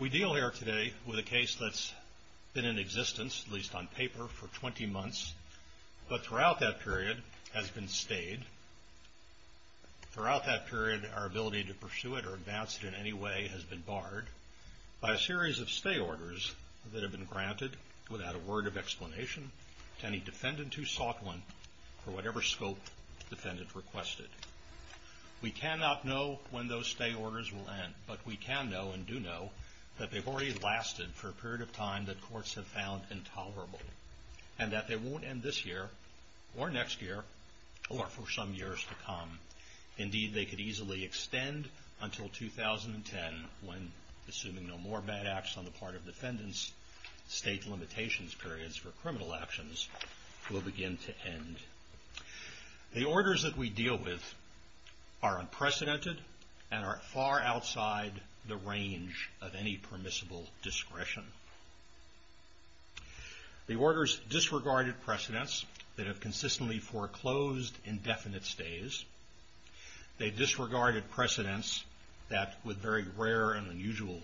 We deal here today with a case that has been in existence, at least on paper, for twenty months, but throughout that period has been stayed. Throughout that period, our ability to pursue it or advance it in any way has been barred by a series of stay orders that have, without a word of explanation, gone to any defendant who sought one for whatever scope the defendant requested. We cannot know when those stay orders will end, but we can know, and do know, that they have already lasted for a period of time that courts have found intolerable, and that they won't end this year, or next year, or for some years to come. Indeed, they could easily extend until 2010, when, assuming no more bad acts on the part of defendants, state limitations periods for criminal actions will begin to end. The orders that we deal with are unprecedented and are far outside the range of any permissible discretion. The orders disregarded precedents that have consistently foreclosed indefinite stays. They disregarded precedents that, with very rare and unusual,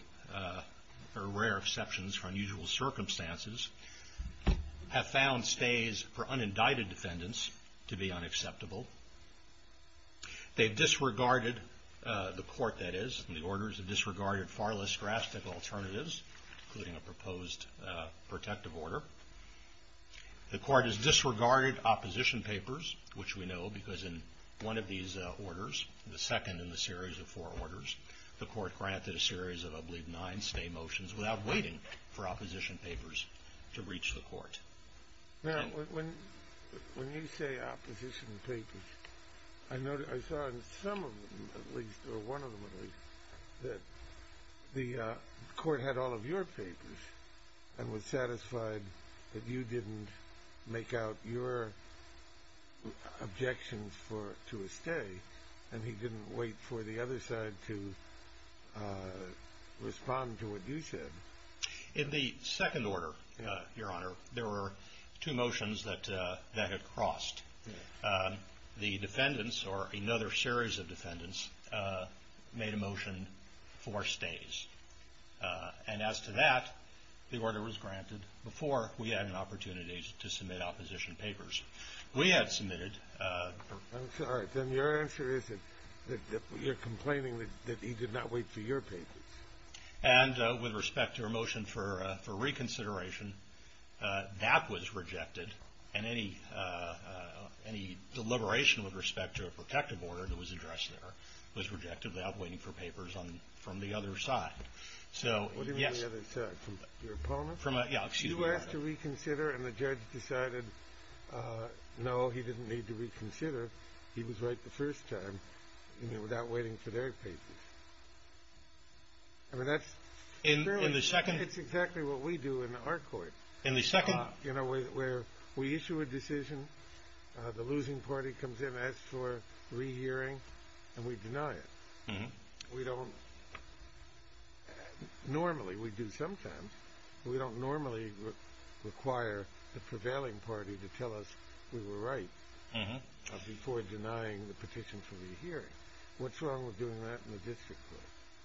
or rare exceptions for unusual circumstances, have found stays for unindicted defendants to be unacceptable. They disregarded, the court that is, the orders have disregarded far less drastic alternatives, including a proposed protective order. The court has disregarded opposition papers, which we know, because in one of these orders, the second in the series of four orders, the court granted a series of, I believe, nine stay motions without waiting for opposition papers to reach the court. Now, when you say opposition papers, I saw in some of them, at least, or one of them, at least, that the court had all of your papers and was satisfied that you didn't make out your objections to a stay, and he didn't wait for the other side to respond to what you said. In the second order, Your Honor, there were two motions that had crossed. The defendants, or another series of defendants, made a motion for stays. And as to that, the order was granted before we had an opportunity to submit opposition papers. We had submitted – I'm sorry. Then your answer is that you're complaining that he did not wait for your papers. And with respect to a motion for reconsideration, that was rejected, and any deliberation with respect to a protective order that was addressed there was rejected without waiting for papers from the other side. So, yes – What do you mean, the other side? Your opponent? You asked to reconsider, and the judge decided, no, he didn't need to reconsider. He was right the first time, without waiting for their papers. I mean, that's clearly – In the second – It's exactly what we do in our court. In the second – You know, where we issue a decision, the losing party comes in, asks for re-hearing, and we don't normally require the prevailing party to tell us we were right before denying the petition for re-hearing. What's wrong with doing that in the district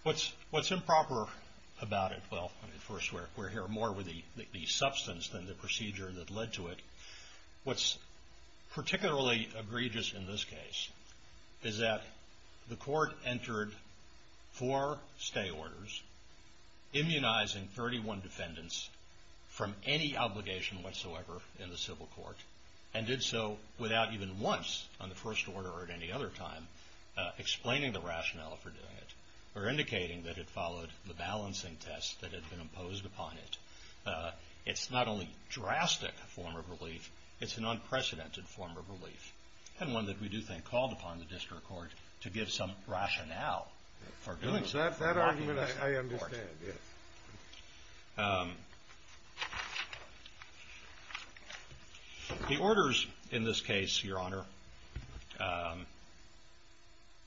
court? What's improper about it – well, first, we're here more with the substance than the procedure that led to it. What's particularly egregious in this case is that the court entered four stay orders, immunizing 31 defendants from any obligation whatsoever in the civil court, and did so without even once, on the first order or at any other time, explaining the rationale for doing it, or indicating that it followed the balancing test that had been imposed upon it. It's not only a drastic form of relief, it's an unprecedented form of relief, and one that we do think called upon the district court to give some rationale for doing so. That argument I understand, yes. The orders in this case, Your Honor,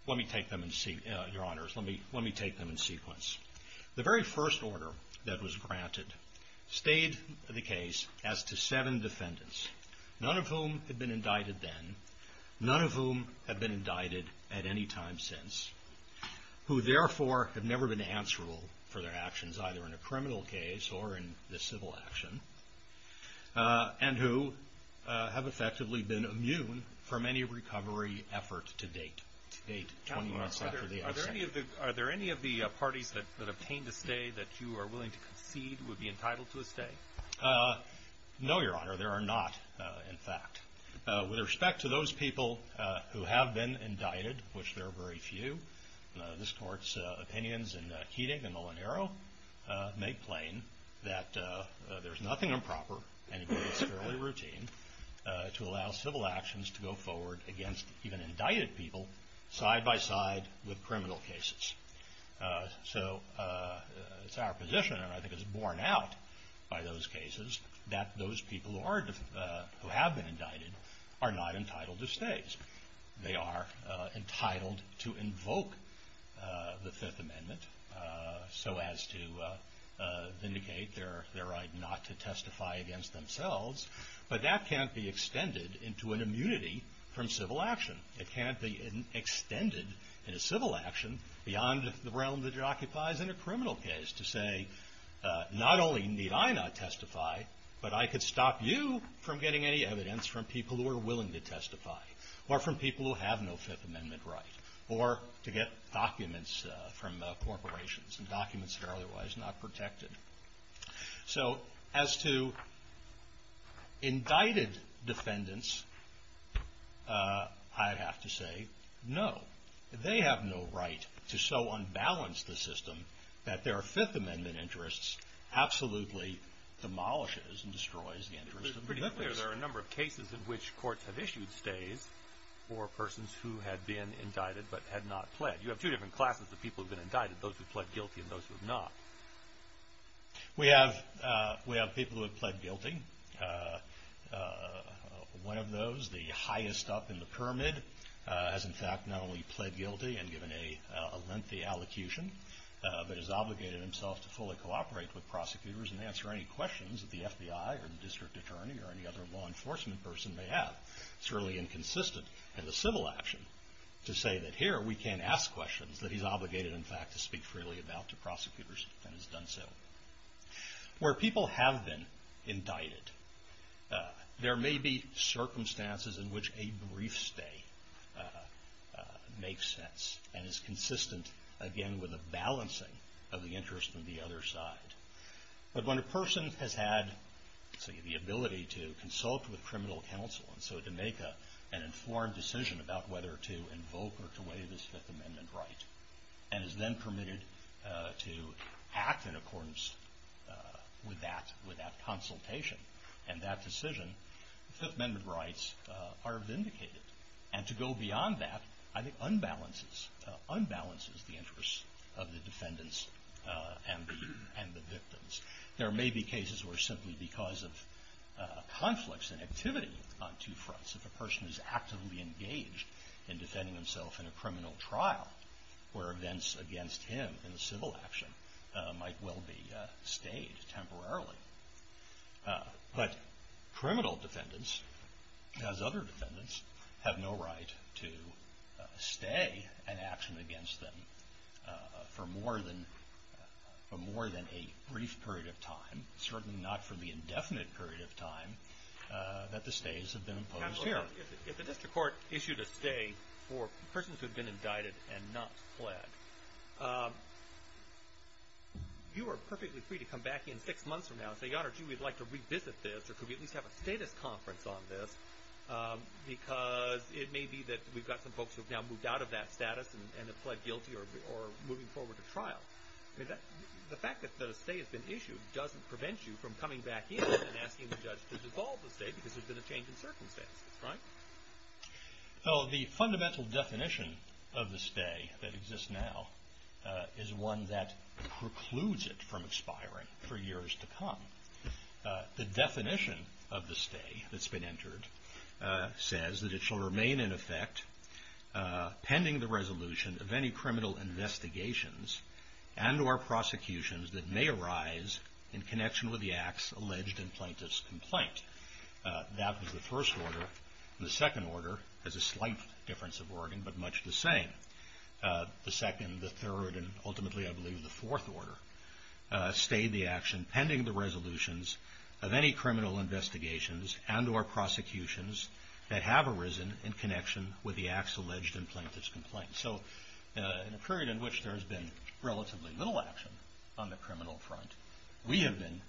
let me take them in sequence. The very first order that was granted stayed the case as to seven defendants, none of whom had been indicted then, none of whom had been indicted at any time since, who therefore have never been answerable for their actions either in a criminal case or in the civil action, and who have effectively been immune from any recovery effort to date, to date, 20 months after the stay that you are willing to concede would be entitled to a stay? No, Your Honor, there are not, in fact. With respect to those people who have been indicted, which there are very few, this court's opinions in Keating and Molinaro make plain that there's nothing improper, and indeed it's fairly routine, to allow civil actions to go forward against even indicted people side-by-side with criminal cases. So it's our position, and I think it's borne out by those cases, that those people who have been indicted are not entitled to stays. They are entitled to invoke the Fifth Amendment so as to vindicate their right not to testify against themselves, but that can't be extended into an immunity from civil action. It can't be extended in a civil action beyond the realm that it occupies in a criminal case to say, not only need I not testify, but I could stop you from getting any evidence from people who are willing to testify, or from people who have no Fifth Amendment right, or to get documents from corporations, and documents that are otherwise not protected. So, as to indicted defendants, I'd have to say, no. They have no right to so unbalance the system that their Fifth Amendment interests absolutely demolishes and destroys the interests of the defendants. It's pretty clear there are a number of cases in which courts have issued stays for persons who had been indicted but had not pled. You have two different classes of people who have been indicted, those who pled guilty and those who have not. We have people who have pled guilty. One of those, the highest up in the pyramid, has in fact not only pled guilty and given a lengthy allocution, but has obligated himself to fully cooperate with prosecutors and answer any questions that the FBI or the district attorney or any other law enforcement person may have. It's really inconsistent in the civil action to say that here we can't ask questions that he's obligated, in fact, to speak freely about to prosecutors and has done so. Where people have been indicted, there may be circumstances in which a brief stay makes sense and is consistent, again, with a balancing of the interest of the other side. But when a person has had, say, the ability to consult with criminal counsel and so to make an informed decision about whether to invoke or to waive his Fifth Amendment right and is then permitted to act in accordance with that consultation and that decision, Fifth Amendment rights are vindicated. And to go beyond that, I think, unbalances the interest of the defendants and the victims. There may be cases where simply because of conflicts and activity on two fronts, if a defendant is engaged in defending himself in a criminal trial, where events against him in the civil action might well be stayed temporarily. But criminal defendants, as other defendants, have no right to stay in action against them for more than a brief period of time, certainly not for the indefinite period of time that the stays have been imposed here. If the district court issued a stay for persons who have been indicted and not pled, you are perfectly free to come back in six months from now and say, Your Honor, gee, we'd like to revisit this, or could we at least have a status conference on this, because it may be that we've got some folks who have now moved out of that status and have pled guilty or are moving forward to trial. The fact that the stay has been issued doesn't prevent you from coming back in and asking the judge to dissolve the stay because there's been a change in circumstances, right? Well, the fundamental definition of the stay that exists now is one that precludes it from expiring for years to come. The definition of the stay that's been entered says that it shall remain in effect pending the resolution of any criminal investigations and or prosecutions that may arise in connection with the act's alleged and plaintiff's complaint. That was the first order. The second order has a slight difference of wording, but much the same. The second, the third, and ultimately, I believe, the fourth order stayed the action pending the resolutions of any criminal investigations and or prosecutions that have arisen in connection with the act's alleged and plaintiff's complaint. So in a period in which there's been relatively little action on the criminal front, we have been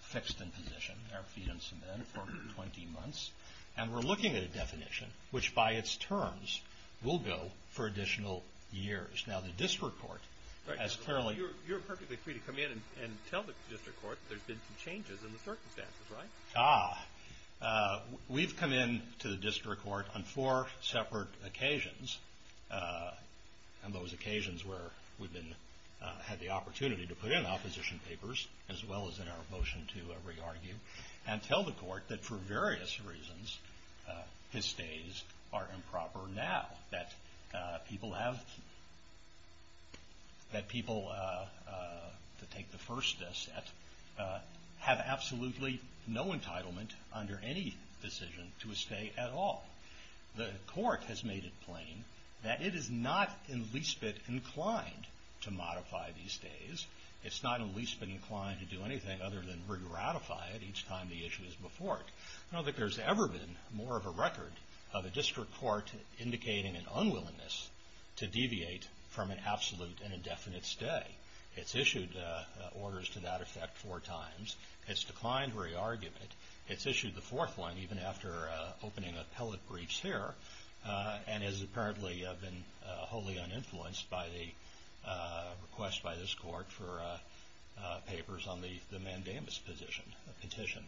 fixed in position, our feet in cement, for over 20 months, and we're looking at a definition which, by its terms, will go for additional years. Now, the district court has clearly... You're perfectly free to come in and tell the district court there's been some changes in the circumstances, right? Ah. We've come in to the district court on four separate occasions, and those occasions where we've had the opportunity to put in opposition papers, as well as in our motion to re-argue, and tell the court that for various reasons, his stays are improper now. That people have... That people, to take the first step, have absolutely no entitlement under any decision to a stay at all. The court has made it plain that it is not in the least bit inclined to modify these stays. It's not in the least bit inclined to do anything other than re-ratify it each time the issue is before it. I don't think there's ever been more of a record of a district court indicating an unwillingness to deviate from an absolute and indefinite stay. It's issued orders to that effect four times. It's declined re-argument. It's issued the fourth one, even after opening appellate briefs here, and has apparently been wholly uninfluenced by the request by this court for papers on the mandamus petition.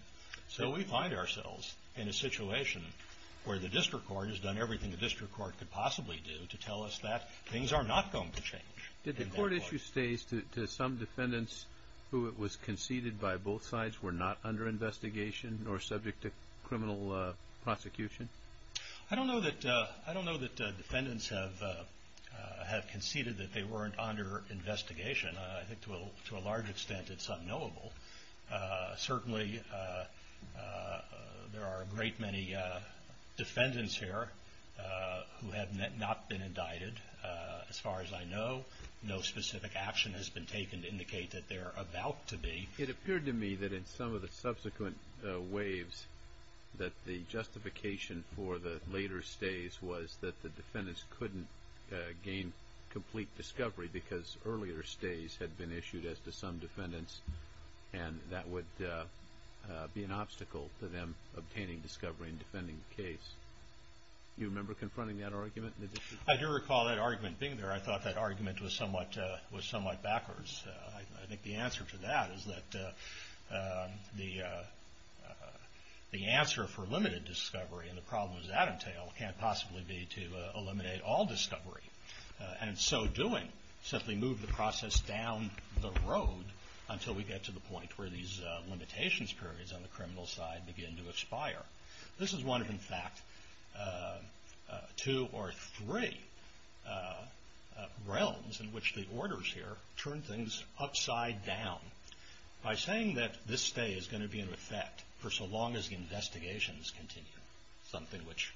So, we find ourselves in a situation where the district court has done everything the district court could possibly do to tell us that things are not going to change. Did the court issue stays to some defendants who it was conceded by both sides were not under investigation, nor subject to criminal prosecution? I don't know that defendants have conceded that they weren't under investigation. I think to a large extent it's unknowable. Certainly, there are a great many defendants here who have not been indicted. As far as I know, no specific action has been taken to indicate that they're about to be. It appeared to me that in some of the subsequent waves that the justification for the later stays was that the defendants couldn't gain complete discovery because earlier stays had been issued as to some defendants, and that would be an obstacle to them obtaining discovery and defending the case. Do you remember confronting that argument in the district court? I do recall that argument being there. I thought that argument was somewhat backwards. I think the answer to that is that the answer for limited discovery and the problems that entail can't possibly be to eliminate all discovery. In so doing, simply move the process down the road until we get to the point where these limitations periods on the criminal side begin to expire. This is one of, in fact, two or three realms in which the orders here turn things upside down. By saying that this stay is going to be in effect for so long as the investigations continue, something which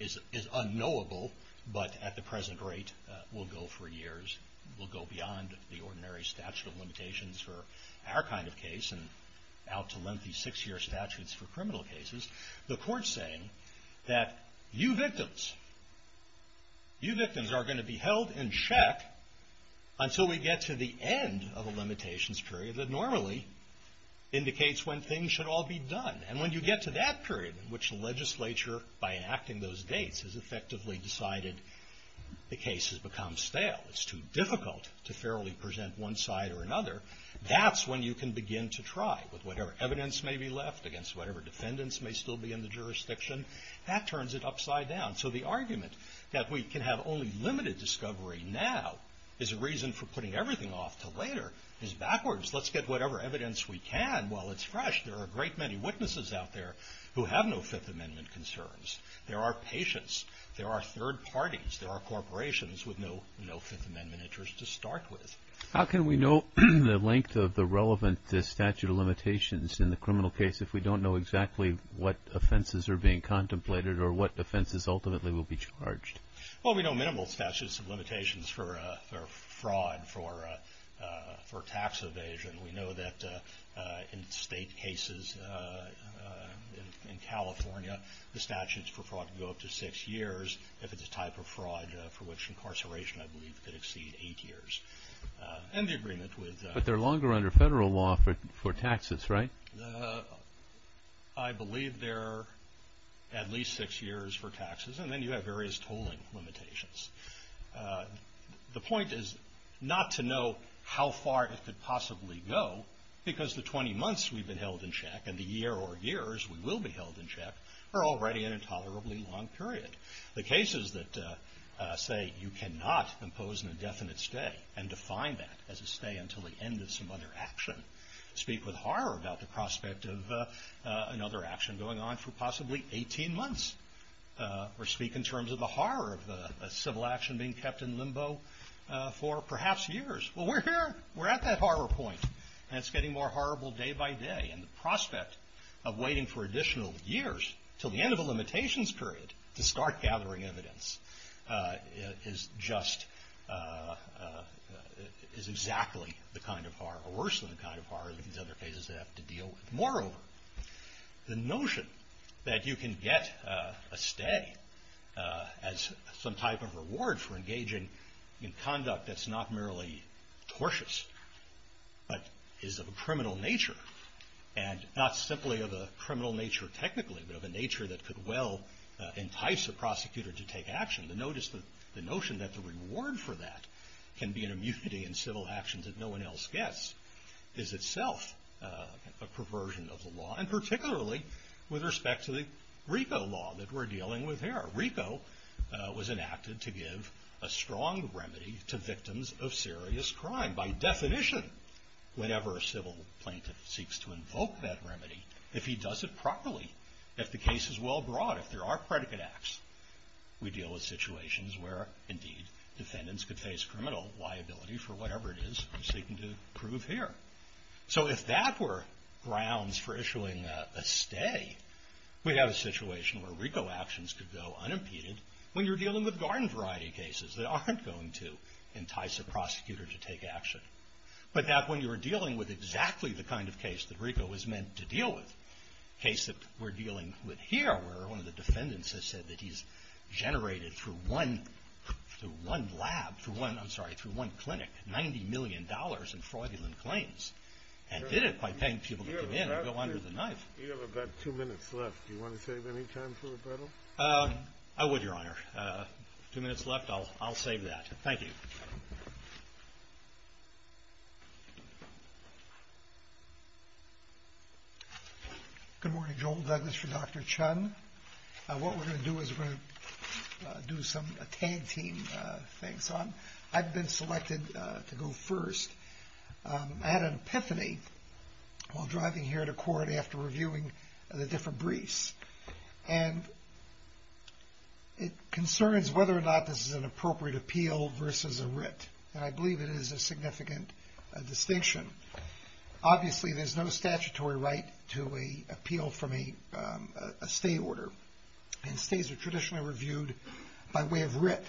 is unknowable, but at the present rate will go for years, will go beyond the ordinary statute of limitations for our kind of case and out to lengthy six-year statutes for criminal cases, the court's saying that you victims, you victims are going to be held in check until we get to the end of a limitations period that normally indicates when things should all be done. And when you get to that period in which the legislature, by enacting those dates, has effectively decided the case has become stale, it's too difficult to fairly present one side or another, that's when you can begin to try with whatever evidence may be left against whatever defendants may still be in the jurisdiction. That turns it upside down. So the argument that we can have only limited discovery now is a reason for putting everything off to later is backwards. Let's get whatever evidence we can while it's fresh. There are a great many witnesses out there who have no Fifth Amendment concerns. There are patients, there are third parties, there are corporations with no Fifth Amendment interest to start with. How can we know the length of the relevant statute of limitations in the criminal case if we don't know exactly what offenses are being contemplated or what offenses ultimately will be charged? Well, we know minimal statutes of limitations for fraud, for tax evasion. We know that in state cases in California, the statutes for fraud can go up to six years if it's a type of fraud for which incarceration, I believe, could exceed eight years. And the agreement with... But they're longer under federal law for taxes, right? I believe they're at least six years for taxes, and then you have various tolling limitations. The point is not to know how far it could possibly go because the 20 months we've been held in check and the year or years we will be held in check are already an intolerably long period. The cases that say you cannot impose an indefinite stay and define that as a stay until the end of some other action speak with horror about the prospect of another action going on for possibly 18 months. Or speak in terms of the horror of a civil action being kept in limbo for perhaps years. Well, we're here. We're at that horror point, and it's getting more horrible day by day. And the prospect of waiting for additional years until the end of a limitations period to start gathering evidence is just...is exactly the kind of horror that we're dealing with. Or worse than the kind of horror that these other cases have to deal with. Moreover, the notion that you can get a stay as some type of reward for engaging in conduct that's not merely tortious, but is of a criminal nature. And not simply of a criminal nature technically, but of a nature that could well entice a prosecutor to take action. To notice the notion that the reward for that can be an immunity in civil actions that no one else gets is itself a perversion of the law, and particularly with respect to the RICO law that we're dealing with here. RICO was enacted to give a strong remedy to victims of serious crime. By definition, whenever a civil plaintiff seeks to invoke that remedy, if he does it properly, if the case is well brought, if there are predicate acts, we deal with situations where, indeed, defendants could face criminal liability for whatever it is we're seeking to prove here. So if that were grounds for issuing a stay, we have a situation where RICO actions could go unimpeded when you're dealing with garden variety cases that aren't going to entice a prosecutor to take action. But that when you're dealing with exactly the kind of case that RICO was meant to deal with, a case that we're dealing with here, where one of the defendants has said that he's generated through one lab, through one, I'm sorry, through one clinic, $90 million in fraudulent claims, and did it by paying people to come in and go under the knife. You have about two minutes left. Do you want to save any time for rebuttal? I would, Your Honor. Two minutes left, I'll save that. Thank you. Good morning, Joel Douglas for Dr. Chun. What we're going to do is we're going to do some tag team things. I've been selected to go first. I had an epiphany while driving here to court after reviewing the different briefs, and it concerns whether or not this is an appeal to writ, and I believe it is a significant distinction. Obviously, there's no statutory right to appeal from a stay order, and stays are traditionally reviewed by way of writ.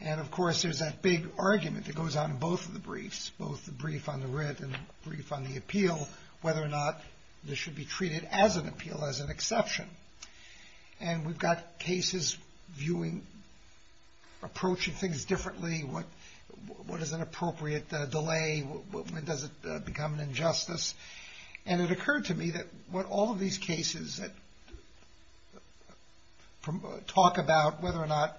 And of course, there's that big argument that goes on in both of the briefs, both the brief on the writ and the brief on the appeal, whether or not this should be treated as an appeal, as an exception. And we've got cases viewing, approaching things differently. What is an appropriate delay? Does it become an injustice? And it occurred to me that what all of these cases that talk about whether or not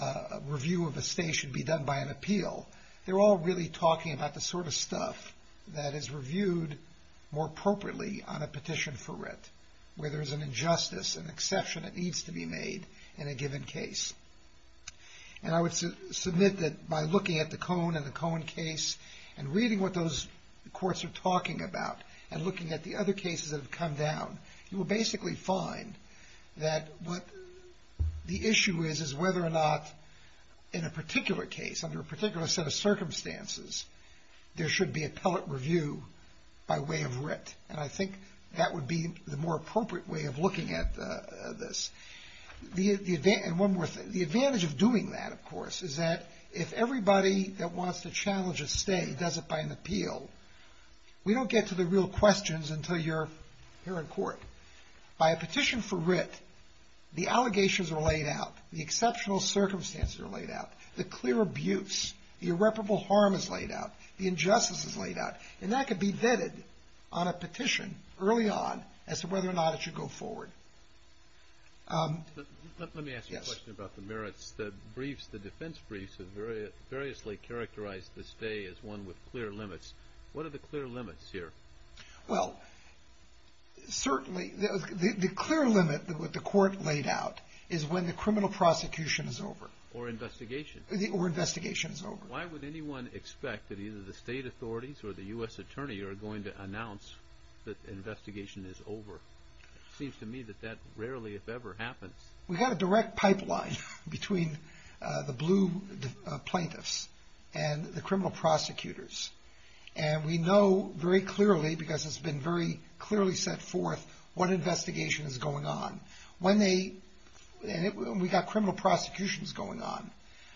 a review of a stay should be done by an appeal, they're all really talking about the sort of stuff that is reviewed more appropriately on a petition for writ, where there's an injustice, an exception that needs to be made in a given case. And I would submit that by looking at the Cohn and the Cohn case, and reading what those courts are talking about, and looking at the other cases that have come down, you will basically find that what the issue is is whether or not in a particular case, under a particular set of circumstances, there should be appellate review by way of writ. And I think that would be the more appropriate way of looking at this. And one more thing. The advantage of doing that, of course, is that if everybody that wants to challenge a stay does it by an appeal, we don't get to the real questions until you're here in court. By a petition for writ, the allegations are laid out, the exceptional circumstances are laid out, the clear abuse, the irreparable harm is laid out, the injustice is laid out. And that could be vetted on a petition early on as to whether or not it should go forward. Let me ask you a question about the merits. The briefs, the defense briefs, have variously characterized the stay as one with clear limits. What are the clear limits here? Well, certainly, the clear limit that the court laid out is when the criminal prosecution is over. Or investigation. Or investigation is over. Why would anyone expect that either the state authorities or the U.S. Attorney are going to announce that the investigation is over? It seems to me that that rarely, if ever, happens. We've got a direct pipeline between the blue plaintiffs and the criminal prosecutors. And we know very clearly, because it's been very clearly set forth, what investigation is going on. And we've got criminal prosecutions going on.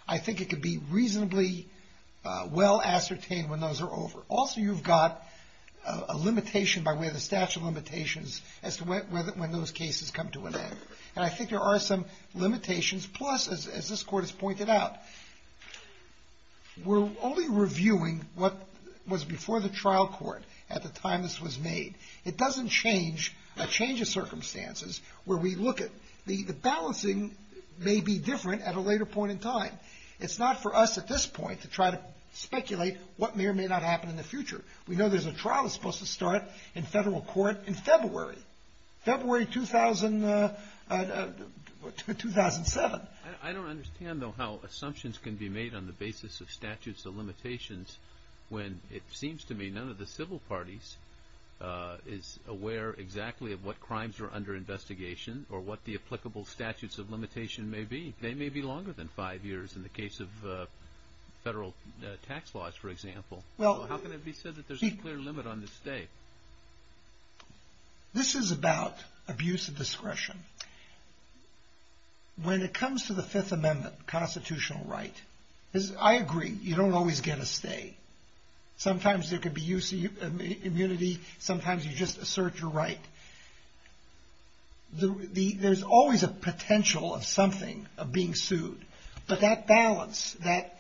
I think it could be reasonably well ascertained when those are over. Also, you've got a limitation by way of the statute of limitations as to when those cases come to an end. And I think there are some limitations. Plus, as this court has pointed out, we're only reviewing what was before the trial court at the time this was made. It doesn't change a change of circumstances where we look at the balancing may be different at a later point in time. It's not for us at this point to try to speculate what may or may not happen in the future. We know there's a trial that's supposed to start in federal court in February. February 2007. I don't understand, though, how assumptions can be made on the basis of statutes of limitations when it seems to me none of the civil parties is aware exactly of what crimes are under investigation or what the applicable statutes of limitation may be. They may be longer than five years in the case of federal tax laws, for example. How can it be said that there's a clear limit on this day? This is about abuse of discretion. When it comes to the Fifth Amendment constitutional right, I agree, you don't always get a stay. Sometimes there could be use of immunity. Sometimes you just assert your right. There's always a potential of something, of being sued. But that balance, that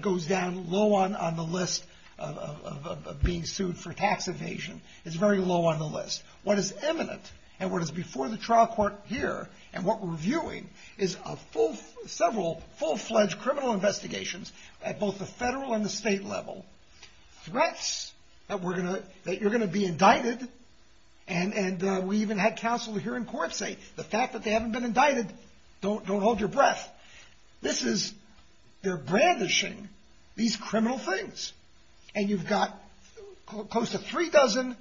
goes down low on the list of being sued for tax evasion is very low on the list. What is imminent and what is before the trial court here and what we're viewing is several full-fledged criminal investigations at both the federal and the state level. Threats that you're going to be indicted, and we even had counsel here in court say the fact that they haven't been indicted, don't hold your breath. They're brandishing these criminal things. You've got close to three dozen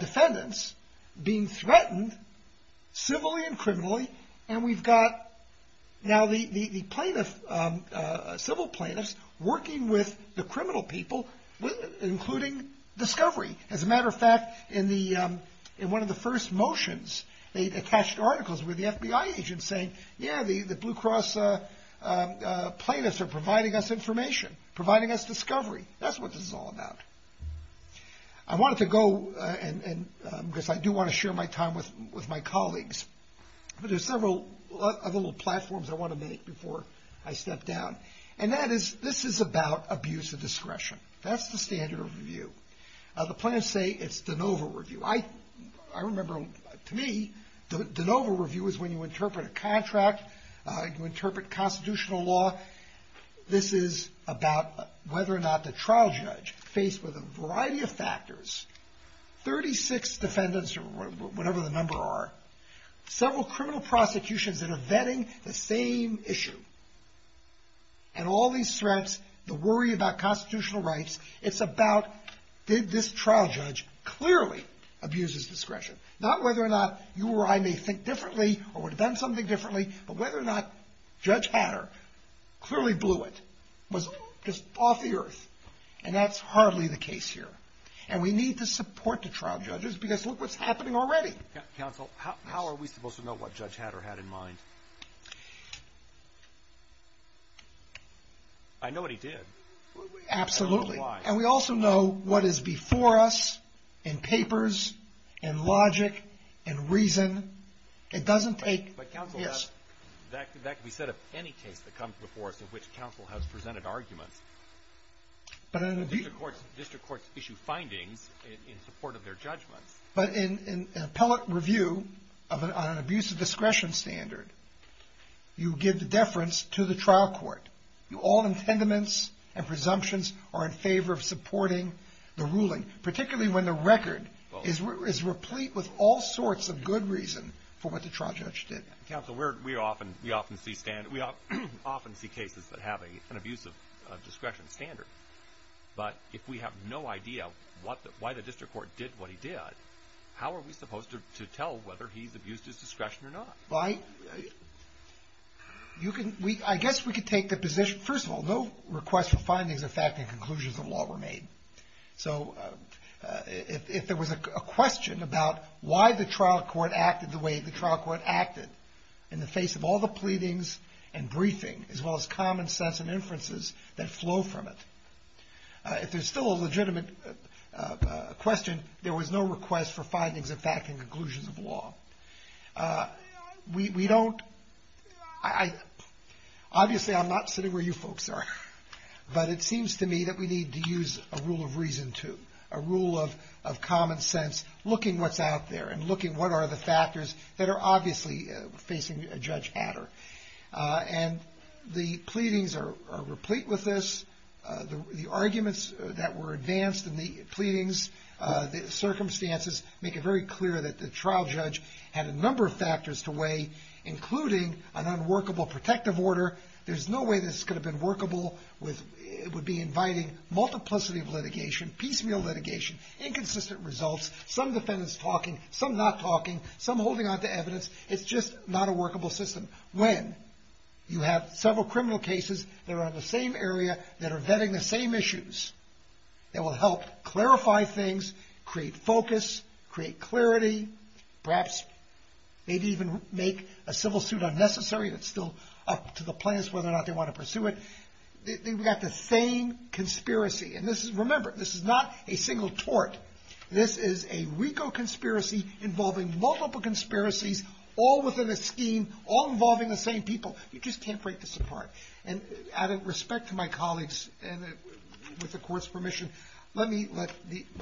defendants being threatened civilly and criminally, and we've got now the plaintiff, civil plaintiffs, working with the criminal people, including discovery. As a matter of fact, in one of the first motions, they attached articles with the FBI agent saying, yeah, the Blue Cross plaintiffs are providing us information, providing us discovery. That's what this is all about. I wanted to go, because I do want to share my time with my colleagues, but there's several other little platforms I want to make before I step down. This is about abuse of discretion. That's the standard of review. The plaintiffs say it's de novo review. I remember, to me, de novo review is when you interpret a contract, you interpret constitutional law. This is about whether or not the trial judge, faced with a variety of factors, 36 defendants or whatever the number are, several criminal prosecutions that are vetting the same issue, and all these threats, the worry about constitutional rights, it's about did this trial judge clearly abuse his discretion? Not whether or not you or I may think differently or would have done something differently, but whether or not Judge Hatter clearly blew it, was off the earth, and that's hardly the case here. And we need to support the trial judges, because look what's happening already. Counsel, how are we supposed to know what Judge Hatter had in mind? I know what he did. Absolutely. And we also know what is before us in papers, in logic, in reason. It doesn't take — yes. But, Counsel, that can be said of any case that comes before us in which counsel has presented arguments. The district courts issue findings in support of their judgments. But in an appellate review on an abuse of discretion standard, you give the deference to the trial court. All intendaments and presumptions are in favor of supporting the ruling, particularly when the record is replete with all sorts of good reason for what the trial judge did. Counsel, we often see cases that have an abuse of discretion standard. But if we have no idea why the district court did what he did, how are we supposed to tell whether he's abused his discretion or not? I guess we could take the position — first of all, no request for findings affecting conclusions of law were made. So if there was a question about why the trial court acted the way the trial court acted in the face of all the pleadings and briefing, as well as common sense and inferences that flow from it, if there's still a legitimate question, there was no request for findings affecting conclusions of law. We don't — obviously, I'm not sitting where you folks are. But it seems to me that we need to use a rule of reason, too, a rule of common sense, looking what's out there and looking what are the factors that are obviously facing Judge Hatter. And the pleadings are replete with this. The arguments that were advanced in the pleadings, the circumstances, make it very clear that the trial judge had a number of factors to weigh, including an unworkable protective order. There's no way this could have been workable with — it would be inviting multiplicity of litigation, piecemeal litigation, inconsistent results, some defendants talking, some not talking, some holding on to evidence. It's just not a workable system. When you have several criminal cases that are on the same area, that are vetting the same issues, that will help clarify things, create focus, create clarity, perhaps maybe even make a civil suit unnecessary. It's still up to the plaintiffs whether or And this is — remember, this is not a single tort. This is a RICO conspiracy involving multiple conspiracies, all within a scheme, all involving the same people. You just can't break this apart. And out of respect to my colleagues, and with the Court's permission, let me let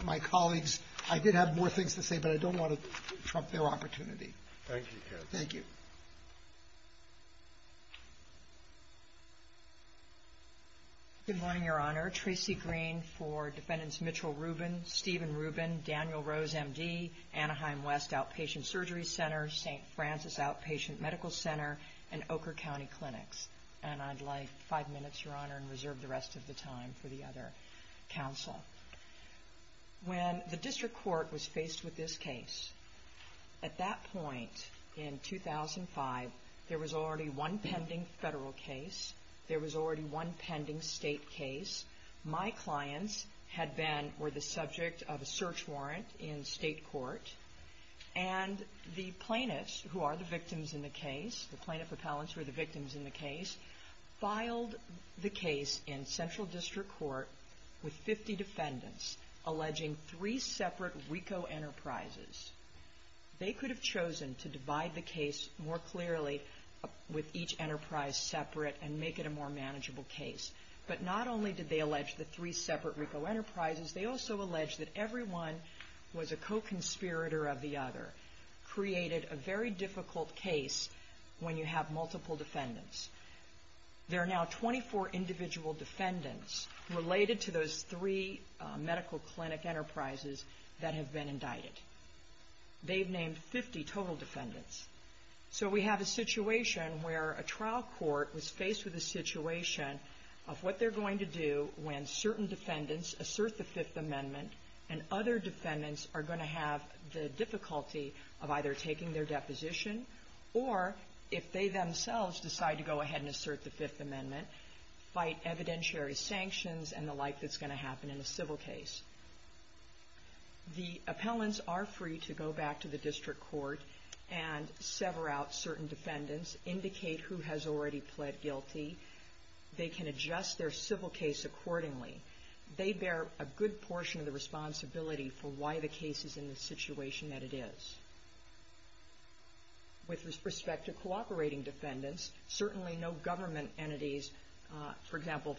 my colleagues — I did have more things to say, but I don't want to trump their opportunity. Thank you, Judge. Thank you. Good morning, Your Honor. Tracy Green for Defendants Mitchell Rubin, Stephen Rubin, Daniel Rose, M.D., Anaheim West Outpatient Surgery Center, St. Francis Outpatient Medical Center, and Ochre County Clinics. And I'd like five minutes, Your Honor, and reserve the rest of the time for the other counsel. When the District Court was faced with this case, at that point in 2005, there was already one pending federal case. There was already one pending state case. My clients had been — were the subject of a search warrant in state court. And the plaintiffs who are the victims in the case — the plaintiff appellants who are the victims in the case — there were three defendants alleging three separate RICO enterprises. They could have chosen to divide the case more clearly, with each enterprise separate, and make it a more manageable case. But not only did they allege the three separate RICO enterprises, they also alleged that everyone who was a co-conspirator of the other created a very difficult case when you have multiple defendants. There are now 24 individual defendants related to those three medical clinic enterprises that have been indicted. They've named 50 total defendants. So we have a situation where a trial court was faced with a situation of what they're going to do when certain defendants assert the Fifth Amendment and other defendants are going to have the difficulty of either taking their deposition or, if they themselves decide to go ahead and assert the Fifth Amendment, fight evidentiary sanctions and the like that's going to happen in a civil case. The appellants are free to go back to the district court and sever out certain defendants, indicate who has already pled guilty. They can adjust their civil case accordingly. They bear a good portion of the responsibility for why the case is in the situation that it is. With respect to cooperating defendants, certainly no government entities, for example,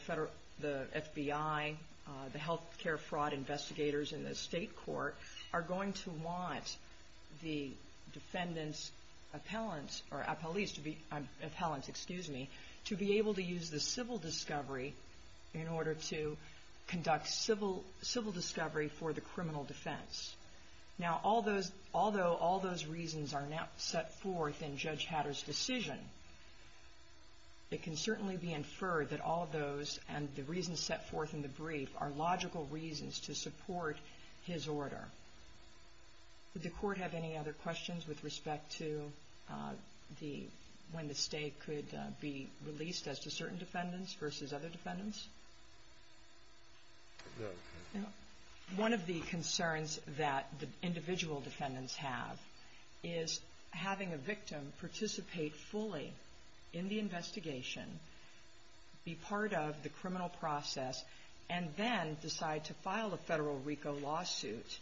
the FBI, the health care fraud investigators in the state court, are going to want the defendants' appellants or appellees' appellants, excuse me, to be able to use the civil discovery in order to conduct civil discovery for the criminal defense. Now, although all those reasons are now set forth in Judge Hatter's decision, it can certainly be inferred that all of those and the reasons set forth in the brief are logical reasons to support his order. Did the court have any other questions with respect to when the state could be released as to certain defendants versus other defendants? One of the concerns that the individual defendants have is having a victim participate fully in the investigation, be part of the criminal process, and then decide to file a federal RICO lawsuit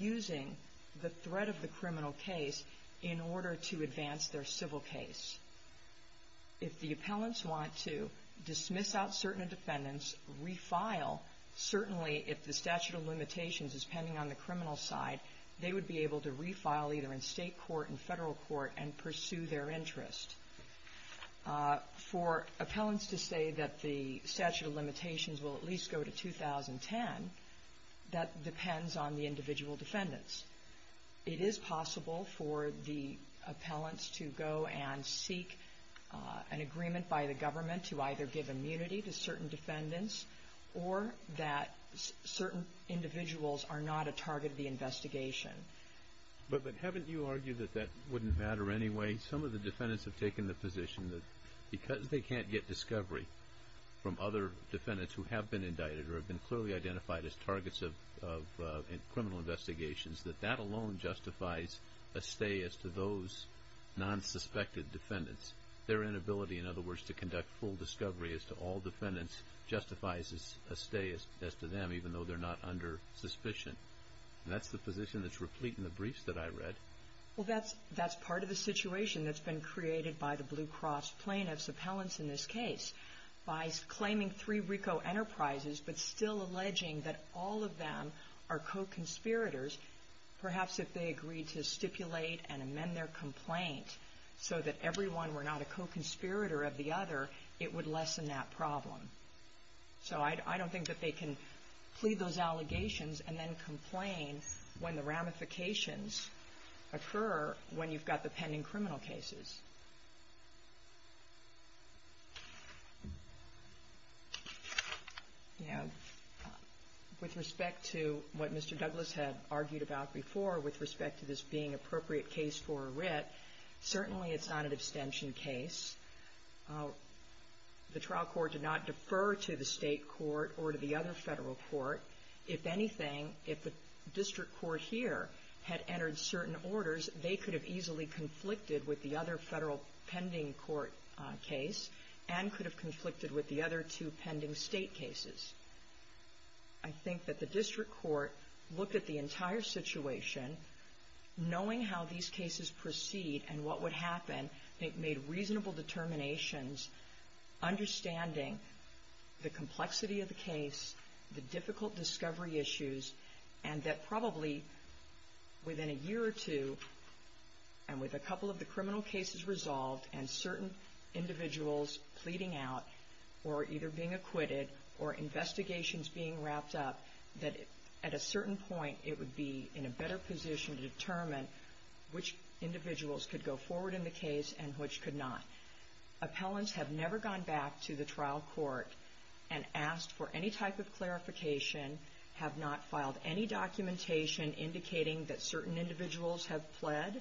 using the threat of the criminal case in order to advance their civil case. If the appellants want to dismiss out certain defendants, refile, certainly if the statute of limitations is pending on the criminal side, they would be able to refile either in state court and federal court and pursue their interest. For appellants to say that the statute of limitations will at least go to 2010, that depends on the individual defendants. It is possible for the appellants to go and seek an agreement by the government to either give immunity to certain defendants or that certain individuals are not a target of the investigation. But haven't you argued that that wouldn't matter anyway? Some of the defendants have taken the position that because they can't get discovery from other defendants who have been indicted or have clearly identified as targets of criminal investigations, that that alone justifies a stay as to those non-suspected defendants. Their inability, in other words, to conduct full discovery as to all defendants justifies a stay as to them, even though they're not under suspicion. And that's the position that's replete in the briefs that I read. Well, that's part of the situation that's been created by the Blue Cross plaintiffs, appellants in this case, by claiming three RICO enterprises but still alleging that all of them are co-conspirators. Perhaps if they agreed to stipulate and amend their complaint so that every one were not a co-conspirator of the other, it would lessen that problem. So I don't think that they can plead those allegations and then complain when the ramifications occur when you've got the pending criminal cases. Yeah. With respect to what Mr. Douglas had argued about before with respect to this being appropriate case for a writ, certainly it's not an abstention case. The trial court did not defer to the State court or to the other Federal court. If anything, if the district court here had entered certain orders, they could have easily conflicted with the other Federal pending court case and could have conflicted with the other two pending State cases. I think that the district court looked at the entire situation, knowing how these cases proceed and what would happen, made reasonable determinations, understanding the complexity of the case, the difficult discovery issues, and that probably within a year or two, and with a couple of the criminal cases resolved and certain individuals pleading out, or either being acquitted or investigations being wrapped up, that at a certain point it would be in a better position to determine which individuals could go forward in the case and which could not. Appellants have never gone back to the trial court and asked for any type of clarification, have not filed any documentation indicating that certain individuals have pled,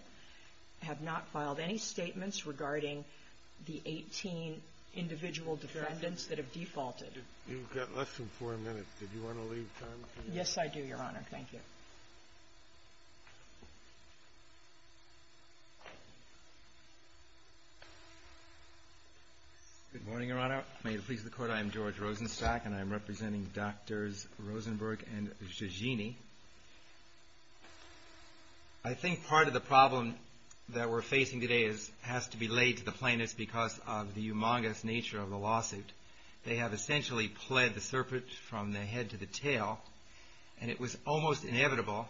have not filed any statements regarding the 18 individual defendants that have defaulted. You've got less than four minutes. Did you want to leave time for that? Yes, I do, Your Honor. Thank you. Good morning, Your Honor. May it please the Court, I am George Rosenstock, and I am representing Drs. Rosenberg and Giggini. I think part of the problem that we're facing today has to be laid to the plaintiffs because of the humongous nature of the lawsuit. They have essentially pled the serpent from the head to the tail, and it was almost inevitable,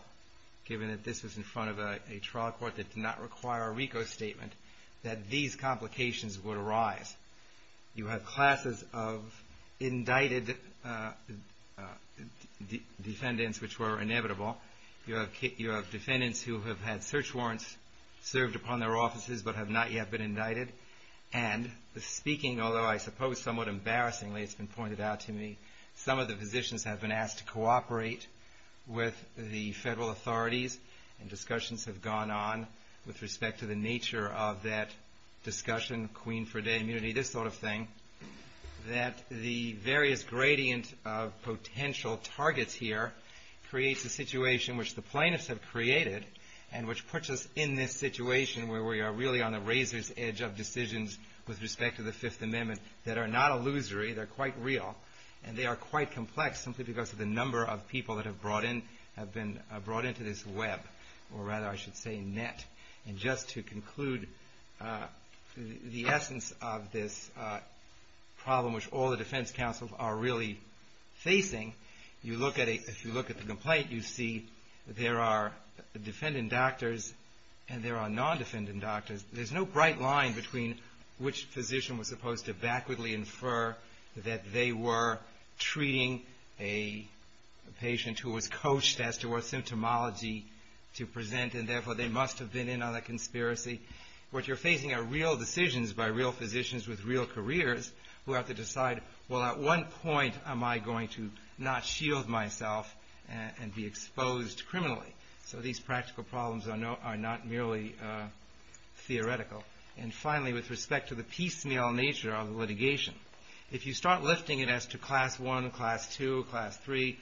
given that this was in front of a trial court that did not require a RICO statement, that these complications would arise. You have classes of indicted defendants which were inevitable. You have defendants who have had search and rescue. And speaking, although I suppose somewhat embarrassingly it's been pointed out to me, some of the physicians have been asked to cooperate with the federal authorities, and discussions have gone on with respect to the nature of that discussion, queen for day immunity, this sort of thing, that the various gradient of potential targets here creates a situation which the plaintiffs have created, and which puts us in this situation where we are really on the razor's edge of making decisions with respect to the Fifth Amendment that are not illusory, they're quite real, and they are quite complex simply because of the number of people that have been brought into this web, or rather I should say net. And just to conclude the essence of this problem which all the defense counsels are really facing, if you look at the complaint, you see there are defendant doctors and there are non-defendant doctors. There's no bright line between which physician was supposed to backwardly infer that they were treating a patient who was coached as to what symptomology to present, and therefore they must have been in on that conspiracy. What you're facing are real decisions by real physicians with real careers who have to decide, well at one point am I going to not shield myself and be exposed criminally? So these practical decisions are not merely theoretical. And finally with respect to the piecemeal nature of the litigation, if you start lifting it as to class one, class two, class three,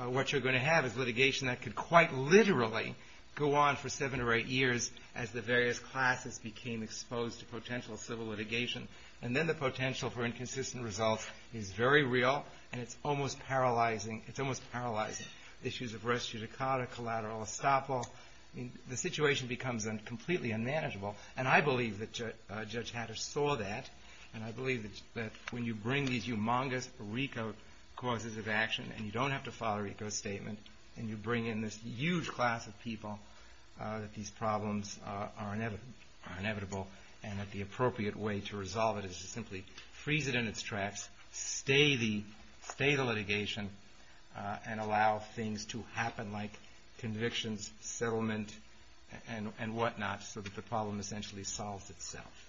what you're going to have is litigation that could quite literally go on for seven or eight years as the various classes became exposed to potential civil litigation. And then the potential for inconsistent results is very real, and it's almost paralyzing. Issues of res judicata, collateral estoppel, the situation becomes completely unmanageable. And I believe that Judge Hatter saw that, and I believe that when you bring these humongous RICO causes of action, and you don't have to file a RICO statement, and you bring in this huge class of people that these problems are inevitable, and that the appropriate way to resolve it is to simply freeze it in its tracks, stay the litigation, and allow things to happen like convictions, settlement, and whatnot, so that the problem essentially solves itself.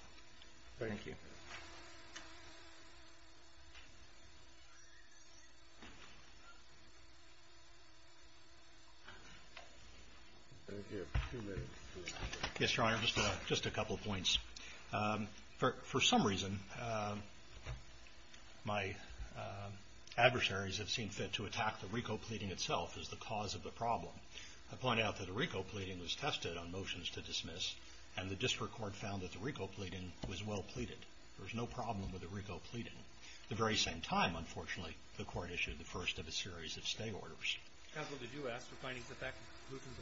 Thank you. Yes, Your Honor, just a couple points. For some reason, my adversaries have seen fit to attack the RICO pleading itself as the cause of the problem. I point out that the RICO pleading was tested on motions to dismiss, and the district court found that the RICO pleading was well treated. There was no problem with the RICO pleading. At the very same time, unfortunately, the court issued the first of a series of stay orders. Counsel, did you ask for findings of that conclusion to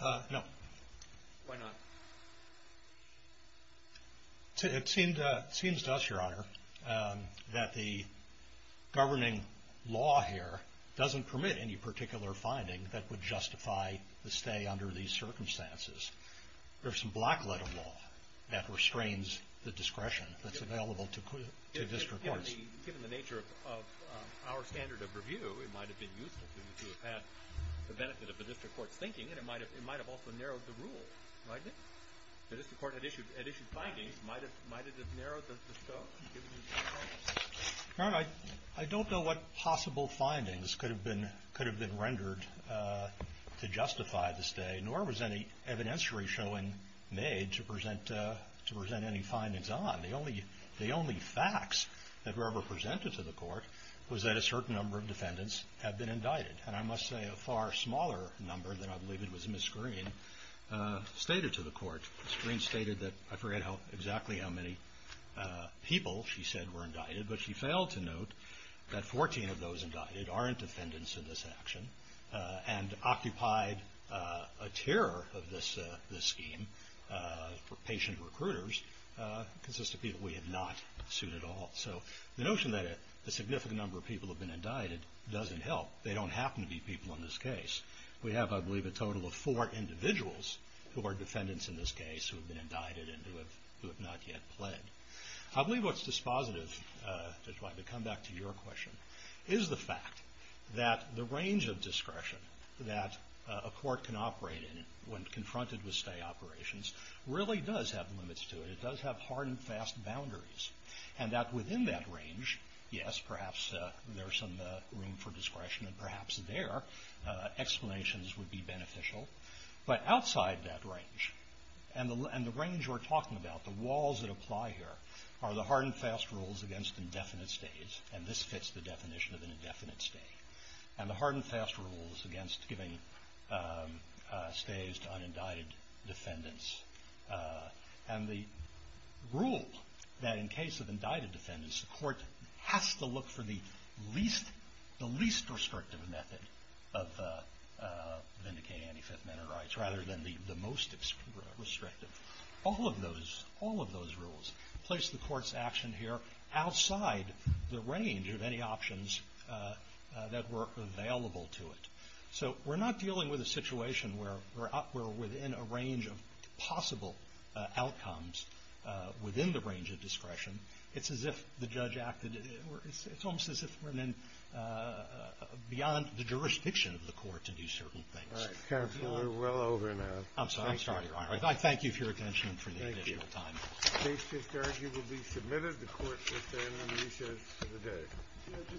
the law? No. Why not? It seems to us, Your Honor, that the governing law here doesn't permit any particular finding that would justify the stay under these circumstances. There's some black letter law that restrains the discretion that's available to district courts. Given the nature of our standard of review, it might have been useful to have had the benefit of the district court's thinking, and it might have also narrowed the rule, right? The district court had issued findings. Might it have narrowed the scope? Your Honor, I don't know what possible findings could have been rendered to justify the stay, nor was any evidentiary showing made to present any findings on. The only facts that were ever presented to the court was that a certain number of defendants had been indicted, and I must say a far smaller number than I believe it was Ms. Green stated to the court. Ms. Green stated that, I forget exactly how many people she said were indicted, but she failed to note that 14 of those indicted aren't defendants in this action, and the scheme for patient recruiters consist of people we have not sued at all. So the notion that a significant number of people have been indicted doesn't help. They don't happen to be people in this case. We have, I believe, a total of four individuals who are defendants in this case who have been indicted and who have not yet pled. I believe what's dispositive, just to come back to your question, is the fact that the operation really does have limits to it. It does have hard and fast boundaries, and that within that range, yes, perhaps there's some room for discretion, and perhaps there explanations would be beneficial, but outside that range, and the range we're talking about, the walls that apply here, are the hard and fast rules against indefinite stays, and this fits the definition of an indefinite stay, and the hard and fast rules against giving stays to unindicted defendants, and the rule that in case of indicted defendants, the court has to look for the least restrictive method of vindicating any Fifth Amendment rights, rather than the most restrictive. All of those rules place the court's action here outside the range of any options that were available to it. So we're not dealing with a situation where we're within a range of possible outcomes within the range of discretion. It's as if the judge acted or it's almost as if we're in beyond the jurisdiction of the court to do certain things. Kennedy. All right. Counsel, we're well over now. I'm sorry, Your Honor. I thank you for your attention and for the additional time. The case is arguably submitted. The court will stand on recess for the day.